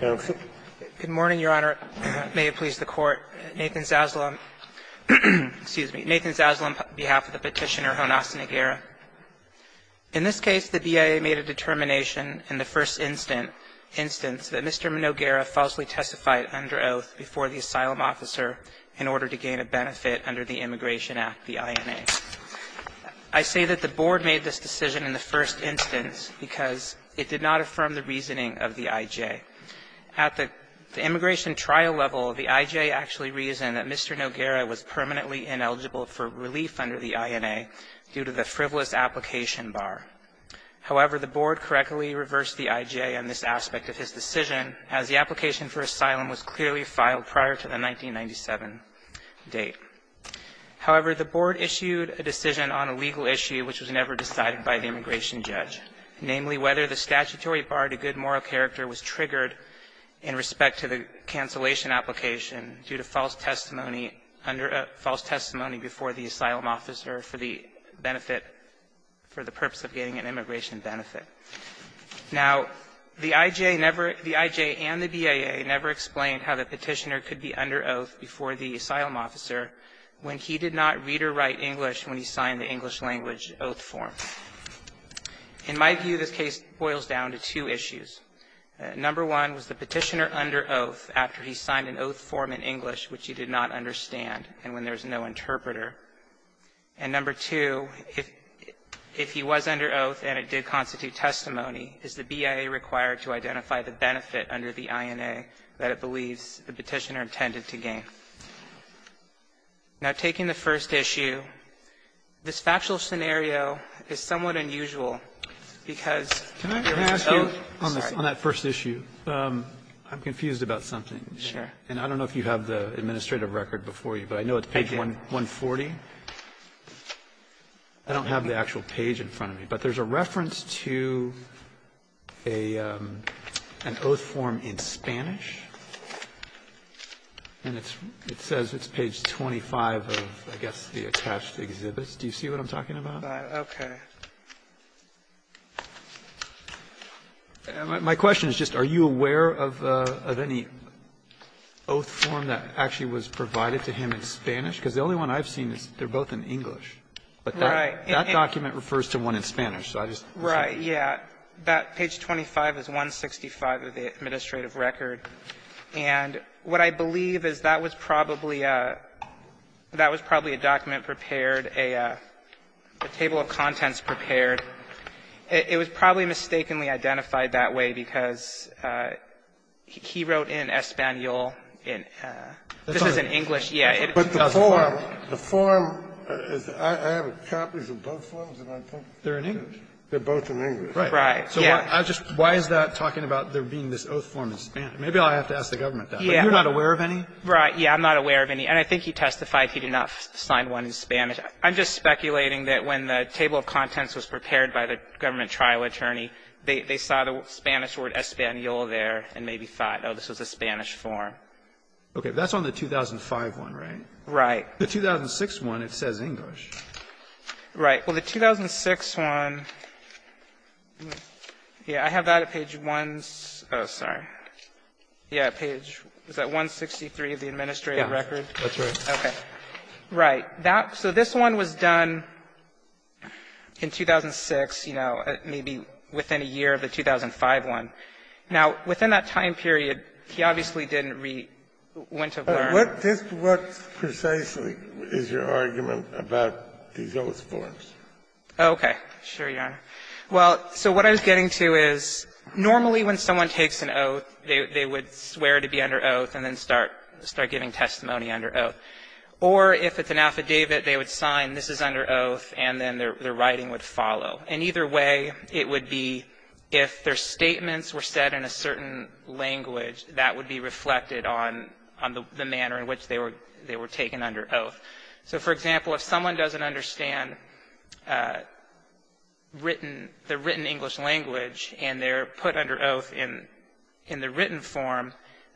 Good morning, Your Honor. May it please the Court. Nathan Zaslom, excuse me, Nathan Zaslom on behalf of the petitioner, Jonas Noguera. In this case, the D.I.A. made a determination in the first instance that Mr. Noguera falsely testified under oath before the asylum officer in order to gain a benefit under the Immigration Act, the I.N.A. I say that the Board made this decision in the first instance because it did not affirm the reasoning of the I.J. At the immigration trial level, the I.J. actually reasoned that Mr. Noguera was permanently ineligible for relief under the I.N.A. due to the frivolous application bar. However, the Board correctly reversed the I.J. on this aspect of his decision, as the application for asylum was clearly filed prior to the 1997 date. However, the Board issued a decision on a legal issue which was never decided by the immigration judge, namely whether the statutory bar to good moral character was triggered in respect to the cancellation application due to false testimony under a false testimony before the asylum officer for the benefit, for the purpose of getting an immigration benefit. Now, the I.J. never the I.J. and the B.A.A. never explained how the petitioner could be under oath before the asylum officer when he did not read or write English when he signed the English language oath form. In my view, this case boils down to two issues. Number one was the petitioner under oath after he signed an oath form in English which he did not understand and when there's no interpreter. And number two, if he was under oath and it did constitute testimony, is the B.A.A. required to identify the benefit under the I.N.A. that it believes the petitioner intended to gain? Now, taking the first issue, this factual scenario is somewhat unusual because there was no ---- Robertson, on that first issue, I'm confused about something. And I don't know if you have the administrative record before you, but I know it's page 140. I don't have the actual page in front of me. But there's a reference to a ---- an oath form in Spanish. And it's ---- it says it's page 25 of, I guess, the attached exhibits. Do you see what I'm talking about? Kagan. Okay. My question is just are you aware of any oath form that actually was provided to him in Spanish? Because the only one I've seen is they're both in English. But that document refers to one in Spanish. So I just ---- Right. Yeah. That page 25 is 165 of the administrative record. And what I believe is that was probably a document prepared, a table of contents prepared. It was probably mistakenly identified that way because he wrote in Espanol. This is in English. Yeah. But the form, the form is ---- I have copies of both forms. They're in English. They're both in English. Right. Right. Yeah. So why is that talking about there being this oath form in Spanish? Maybe I'll have to ask the government that. Yeah. But you're not aware of any? Right. Yeah. I'm not aware of any. And I think he testified he did not sign one in Spanish. I'm just speculating that when the table of contents was prepared by the government trial attorney, they saw the Spanish word Espanol there and maybe thought, oh, this was a Spanish form. Okay. But that's on the 2005 one, right? Right. The 2006 one, it says English. Right. Well, the 2006 one, yeah, I have that at page 1 ---- oh, sorry. Yeah, page ---- is that 163 of the administrative record? Yeah. That's right. Okay. Right. That ---- so this one was done in 2006, you know, maybe within a year of the 2005 one. Now, within that time period, he obviously didn't read when to learn. What precisely is your argument about these oath forms? Okay. Sure, Your Honor. Well, so what I was getting to is normally when someone takes an oath, they would swear to be under oath and then start giving testimony under oath. Or if it's an affidavit, they would sign, this is under oath, and then their writing would follow. And either way, it would be if their statements were said in a certain language, that would be reflected on the manner in which they were taken under oath. So, for example, if someone doesn't understand the written English language and they're put under oath in the written form,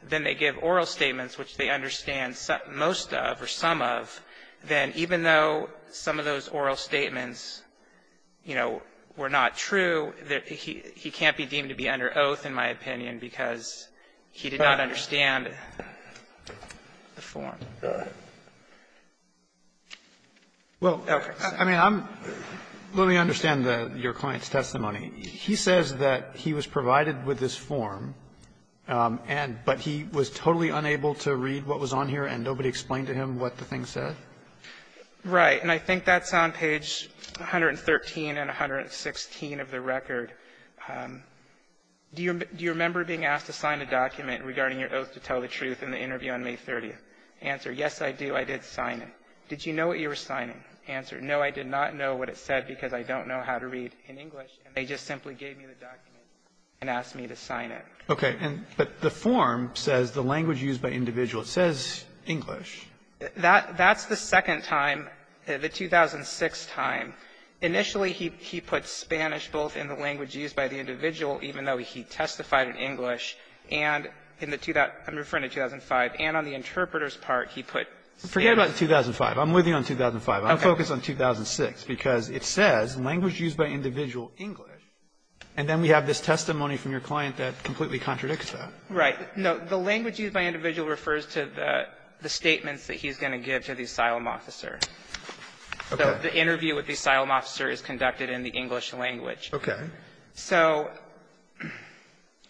then they give oral statements which they understand most of or some of. Then even though some of those oral statements, you know, were not true, he can't be deemed to be under oath, in my opinion, because he did not understand the form. All right. Well, I mean, I'm ---- let me understand your client's testimony. He says that he was provided with this form, but he was totally unable to read what was on here, and nobody explained to him what the thing said? Right. And I think that's on page 113 and 116 of the record. Do you remember being asked to sign a document regarding your oath to tell the truth in the interview on May 30th? Answer, yes, I do. I did sign it. Did you know what you were signing? Answer, no, I did not know what it said because I don't know how to read in English, and they just simply gave me the document and asked me to sign it. Okay. But the form says the language used by individual. It says English. That's the second time, the 2006 time. Initially, he put Spanish both in the language used by the individual, even though he testified in English, and in the ---- I'm referring to 2005, and on the interpreter's part, he put Spanish. Forget about 2005. I'm with you on 2005. I'm focused on 2006 because it says, language used by individual, English. And then we have this testimony from your client that completely contradicts that. Right. No. The language used by individual refers to the statements that he's going to give to the asylum officer. Okay. The interview with the asylum officer is conducted in the English language. Okay. So ----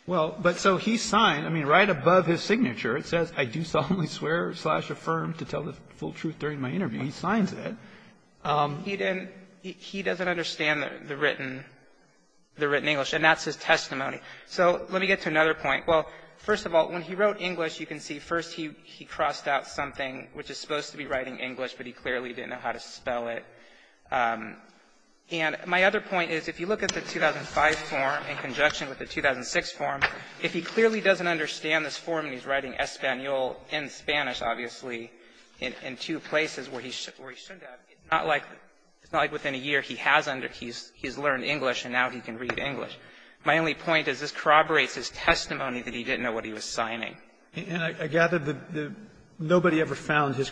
Well, but so he signed, I mean, right above his signature, it says, I do solemnly swear, slash, affirm to tell the full truth during my interview. He signs it. He didn't ---- he doesn't understand the written English, and that's his testimony. So let me get to another point. Well, first of all, when he wrote English, you can see, first, he crossed out something which is supposed to be writing English, but he clearly didn't know how to spell it. And my other point is, if you look at the 2005 form in conjunction with the 2006 form, if he clearly doesn't understand this form, and he's writing Español and Spanish, obviously, in two places where he's ---- it's not like within a year he has under ---- he's learned English, and now he can read English. My only point is this corroborates his testimony that he didn't know what he was signing. And I gather that nobody ever found his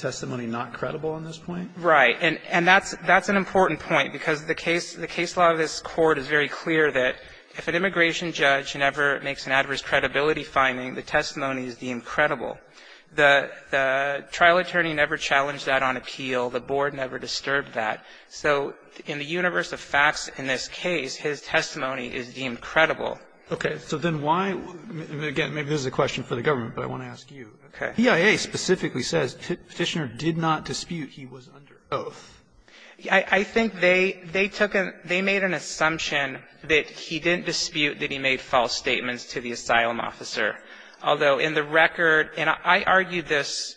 testimony not credible on this point? Right. And that's an important point, because the case law of this Court is very clear that if an immigration judge never makes an adverse credibility finding, the testimony is deemed credible. The trial attorney never challenged that on appeal. The board never disturbed that. So in the universe of facts in this case, his testimony is deemed credible. Okay. So then why ---- again, maybe this is a question for the government, but I want to ask you. Okay. The EIA specifically says Petitioner did not dispute he was under oath. I think they took a ---- they made an assumption that he didn't dispute that he made false statements to the asylum officer. Although in the record, and I argued this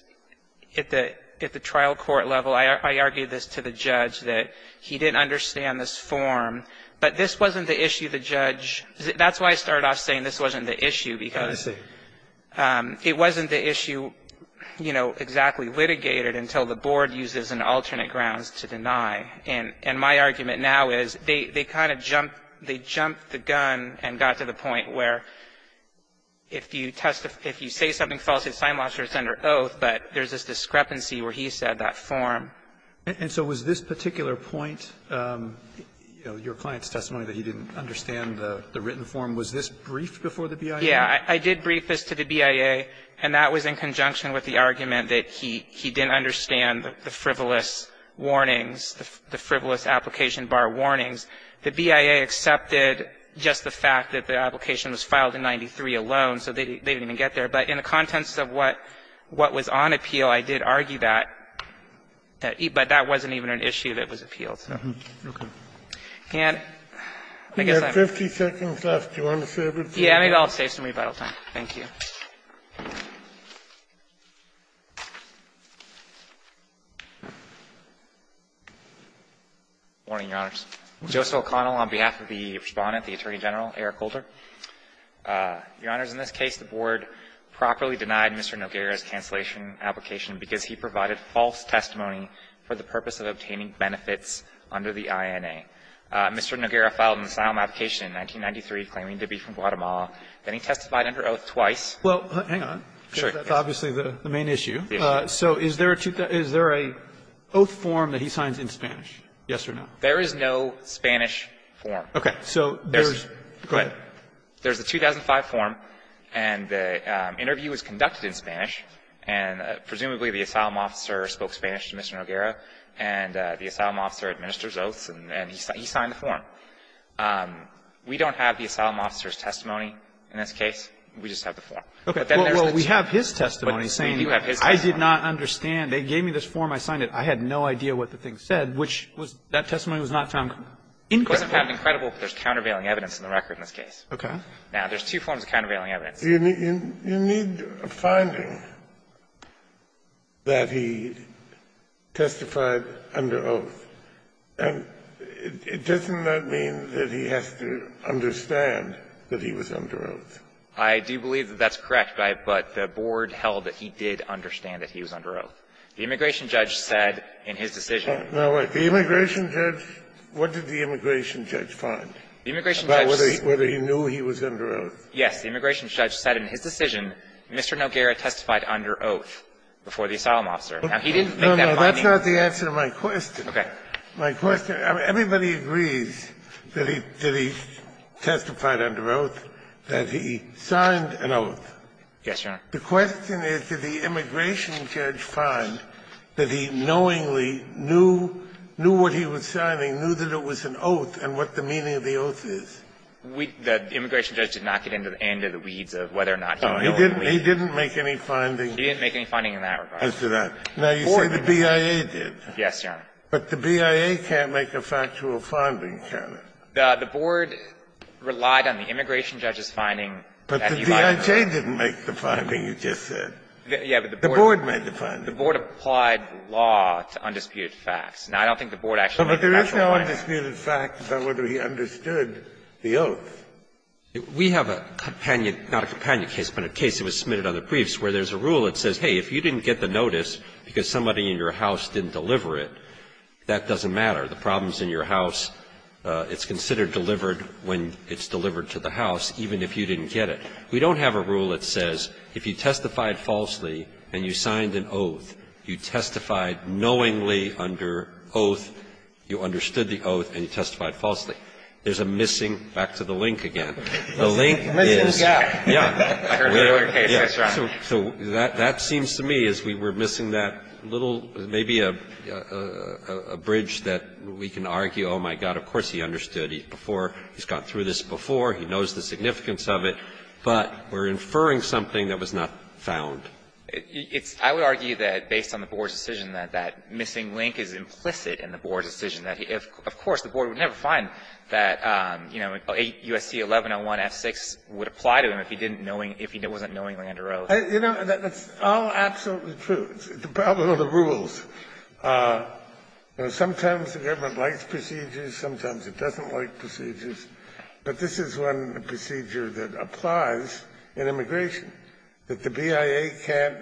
at the trial court level, I argued this to the judge that he didn't understand this form, but this wasn't the issue the judge ---- that's why I started off saying this wasn't the issue, because it wasn't the issue, you know, exactly litigated until the board used it as an alternate grounds to deny. And my argument now is they kind of jumped the gun and got to the point where if you say something false to the asylum officer, it's under oath, but there's this discrepancy where he said that form. And so was this particular point, you know, your client's testimony that he didn't understand the written form, was this briefed before the BIA? Yeah. I did brief this to the BIA, and that was in conjunction with the argument that he didn't understand the frivolous warnings, the frivolous application bar warnings. The BIA accepted just the fact that the application was filed in 93 alone, so they didn't even get there. But in the context of what was on appeal, I did argue that, but that wasn't even an issue that was appealed. And I guess I'm ---- We have 50 seconds left. Do you want to serve it? Yeah. Maybe I'll save some rebuttal time. Thank you. Morning, Your Honors. Joseph O'Connell on behalf of the Respondent, the Attorney General, Eric Holder. Your Honors, in this case, the Board properly denied Mr. Noguera's cancellation application because he provided false testimony for the purpose of obtaining benefits under the INA. Mr. Noguera filed an asylum application in 1993 claiming to be from Guatemala. Then he testified under oath twice. Well, hang on. Sure. That's obviously the main issue. So is there a oath form that he signs in Spanish, yes or no? There is no Spanish form. Okay. So there's the 2005 form, and the interview was conducted in Spanish, and presumably the asylum officer spoke Spanish to Mr. Noguera, and the asylum officer administers oaths, and he signed the form. We don't have the asylum officer's testimony in this case. We just have the form. Okay. Well, we have his testimony saying, I did not understand. They gave me this form. I signed it. I had no idea what the thing said, which was that testimony was not found credible. It wasn't found credible, but there's countervailing evidence in the record in this case. Okay. Now, there's two forms of countervailing evidence. You need a finding that he testified under oath. And doesn't that mean that he has to understand that he was under oath? I do believe that that's correct, but the board held that he did understand that he was under oath. The immigration judge said in his decision that he was under oath. Now, wait. The immigration judge, what did the immigration judge find about whether he knew he was under oath? Yes. The immigration judge said in his decision Mr. Noguera testified under oath before the asylum officer. Now, he didn't make that finding. No, no. That's not the answer to my question. Okay. My question, everybody agrees that he testified under oath, that he signed an oath. Yes, Your Honor. The question is, did the immigration judge find that he knowingly knew what he was signing, knew that it was an oath, and what the meaning of the oath is? We – the immigration judge did not get into the weeds of whether or not he knew it or not. No, he didn't make any finding. He didn't make any finding in that regard. Now, you say the BIA did. Yes, Your Honor. But the BIA can't make a factual finding, can it? The board relied on the immigration judge's finding. But the BIA didn't make the finding you just said. Yes, but the board – The board made the finding. The board applied law to undisputed facts. Now, I don't think the board actually made a factual finding. But there is no undisputed fact about whether he understood the oath. We have a companion – not a companion case, but a case that was submitted under briefs where there's a rule that says, hey, if you didn't get the notice because somebody in your house didn't deliver it, that doesn't matter. The problem's in your house. It's considered delivered when it's delivered to the house, even if you didn't get it. We don't have a rule that says if you testified falsely and you signed an oath, you testified knowingly under oath, you understood the oath, and you testified falsely. There's a missing – back to the link again. The link is – The missing gap. Yeah. I heard the other case. That's right. So that seems to me as we were missing that little, maybe a bridge that we can argue, oh, my God, of course he understood. He's before – he's gone through this before. He knows the significance of it. But we're inferring something that was not found. It's – I would argue that based on the board's decision that that missing link is implicit in the board's decision that he – of course, the board would never find that, you know, USC 1101 F6 would apply to him if he didn't knowing – if he wasn't knowingly under oath. You know, that's all absolutely true. It's the problem of the rules. You know, sometimes the government likes procedures, sometimes it doesn't like procedures. But this is one procedure that applies in immigration, that the BIA can't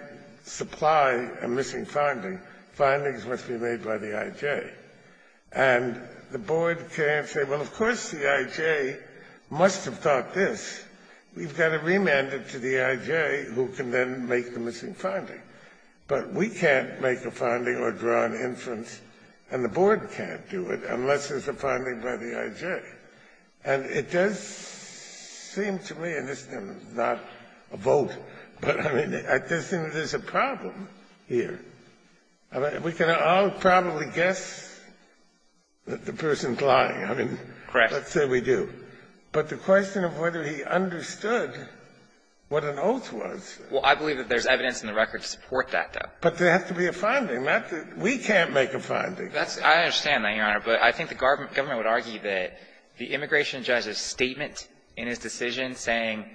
supply a missing finding. Findings must be made by the IJ. And the board can't say, well, of course the IJ must have thought this. We've got to remand it to the IJ, who can then make the missing finding. But we can't make a finding or draw an inference, and the board can't do it unless there's a finding by the IJ. And it does seem to me – and this is not a vote, but I mean, I just think there's a problem here. We can all probably guess that the person's lying. I mean, let's say we do. But the question of whether he understood what an oath was. Well, I believe that there's evidence in the record to support that, though. But there has to be a finding. We can't make a finding. That's – I understand that, Your Honor, but I think the government would argue that the immigration judge's statement in his decision saying,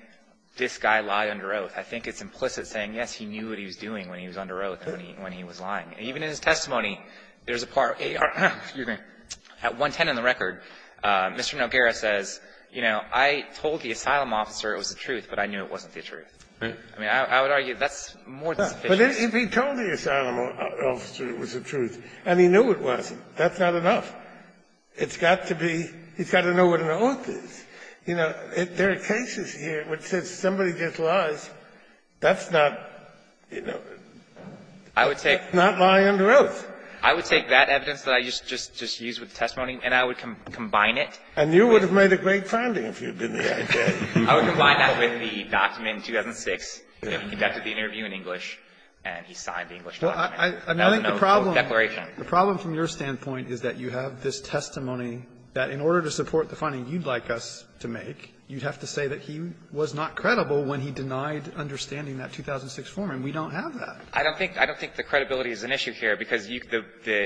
this guy lied under oath, I think it's implicit saying, yes, he knew what he was doing when he was under oath and when he was lying. And even in his testimony, there's a part – at 110 in the record, Mr. Noguera says, you know, I told the asylum officer it was the truth, but I knew it wasn't the truth. I mean, I would argue that's more than sufficient. Kennedy, but if he told the asylum officer it was the truth, and he knew it wasn't, that's not enough. It's got to be – he's got to know what an oath is. You know, there are cases here where it says somebody just lies. That's not, you know, not logical. I would take that evidence that I just used with the testimony, and I would combine it. Kennedy, and you would have made a great finding if you had been the I.J. I would combine that with the document in 2006, that he conducted the interview in English, and he signed the English document. That was an oath. A declaration. The problem from your standpoint is that you have this testimony that in order to support the finding you'd like us to make, you'd have to say that he was not credible when he denied understanding that 2006 form, and we don't have that. I don't think the credibility is an issue here, because the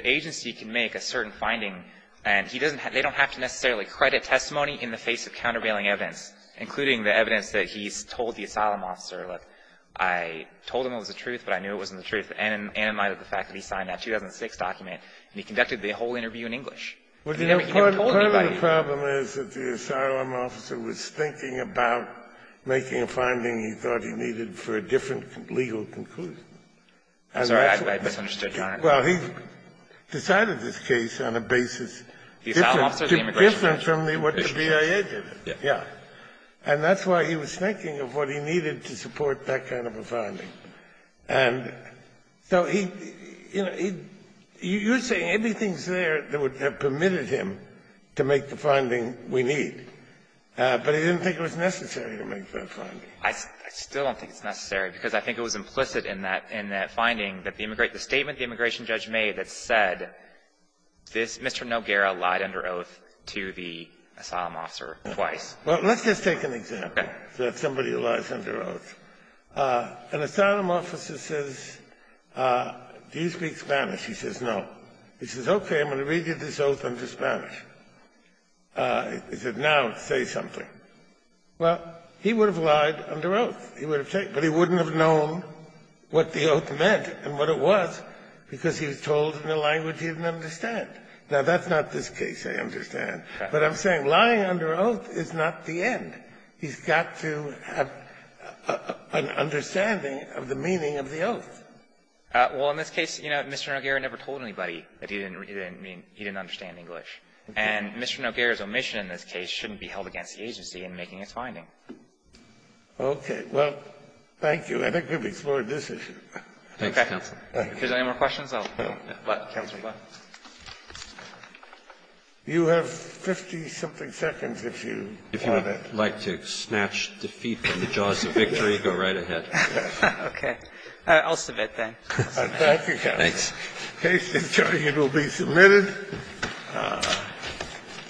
agency can make a certain finding, and they don't have to necessarily credit testimony in the face of countervailing evidence, including the evidence that he's told the asylum officer, like, I told him it was the truth, but I knew it wasn't the truth, and in light of the fact that he signed that 2006 document, and he conducted the whole interview in English. The problem is that the asylum officer was thinking about making a finding he thought he needed for a different legal conclusion. And that's why he decided this case on a basis different from what the BIA did. And that's why he was thinking of what he needed to support that kind of a finding. And so he, you know, you're saying anything's there that would have permitted him to make the finding we need, but he didn't think it was necessary to make that finding. I still don't think it's necessary, because I think it was implicit in that finding that the statement the immigration judge made that said this Mr. Noguera lied under oath to the asylum officer twice. Well, let's just take an example, that somebody lies under oath. An asylum officer says, do you speak Spanish? He says, no. He says, okay, I'm going to read you this oath under Spanish. He says, now say something. Well, he would have lied under oath. He would have said, but he wouldn't have known what the oath meant and what it was, because he was told in the language he didn't understand. Now, that's not this case I understand. But I'm saying lying under oath is not the end. He's got to have an understanding of the meaning of the oath. Well, in this case, you know, Mr. Noguera never told anybody that he didn't understand English. And Mr. Noguera's omission in this case shouldn't be held against the agency in making its finding. Okay. Well, thank you. I think we've explored this issue. Thanks, counsel. If there's any more questions, I'll let Counselor Gluck. You have 50-something seconds if you want to. If you would like to snatch defeat from the jaws of victory, go right ahead. Okay. I'll submit, then. Thank you, counsel. Case in Jordan will be submitted.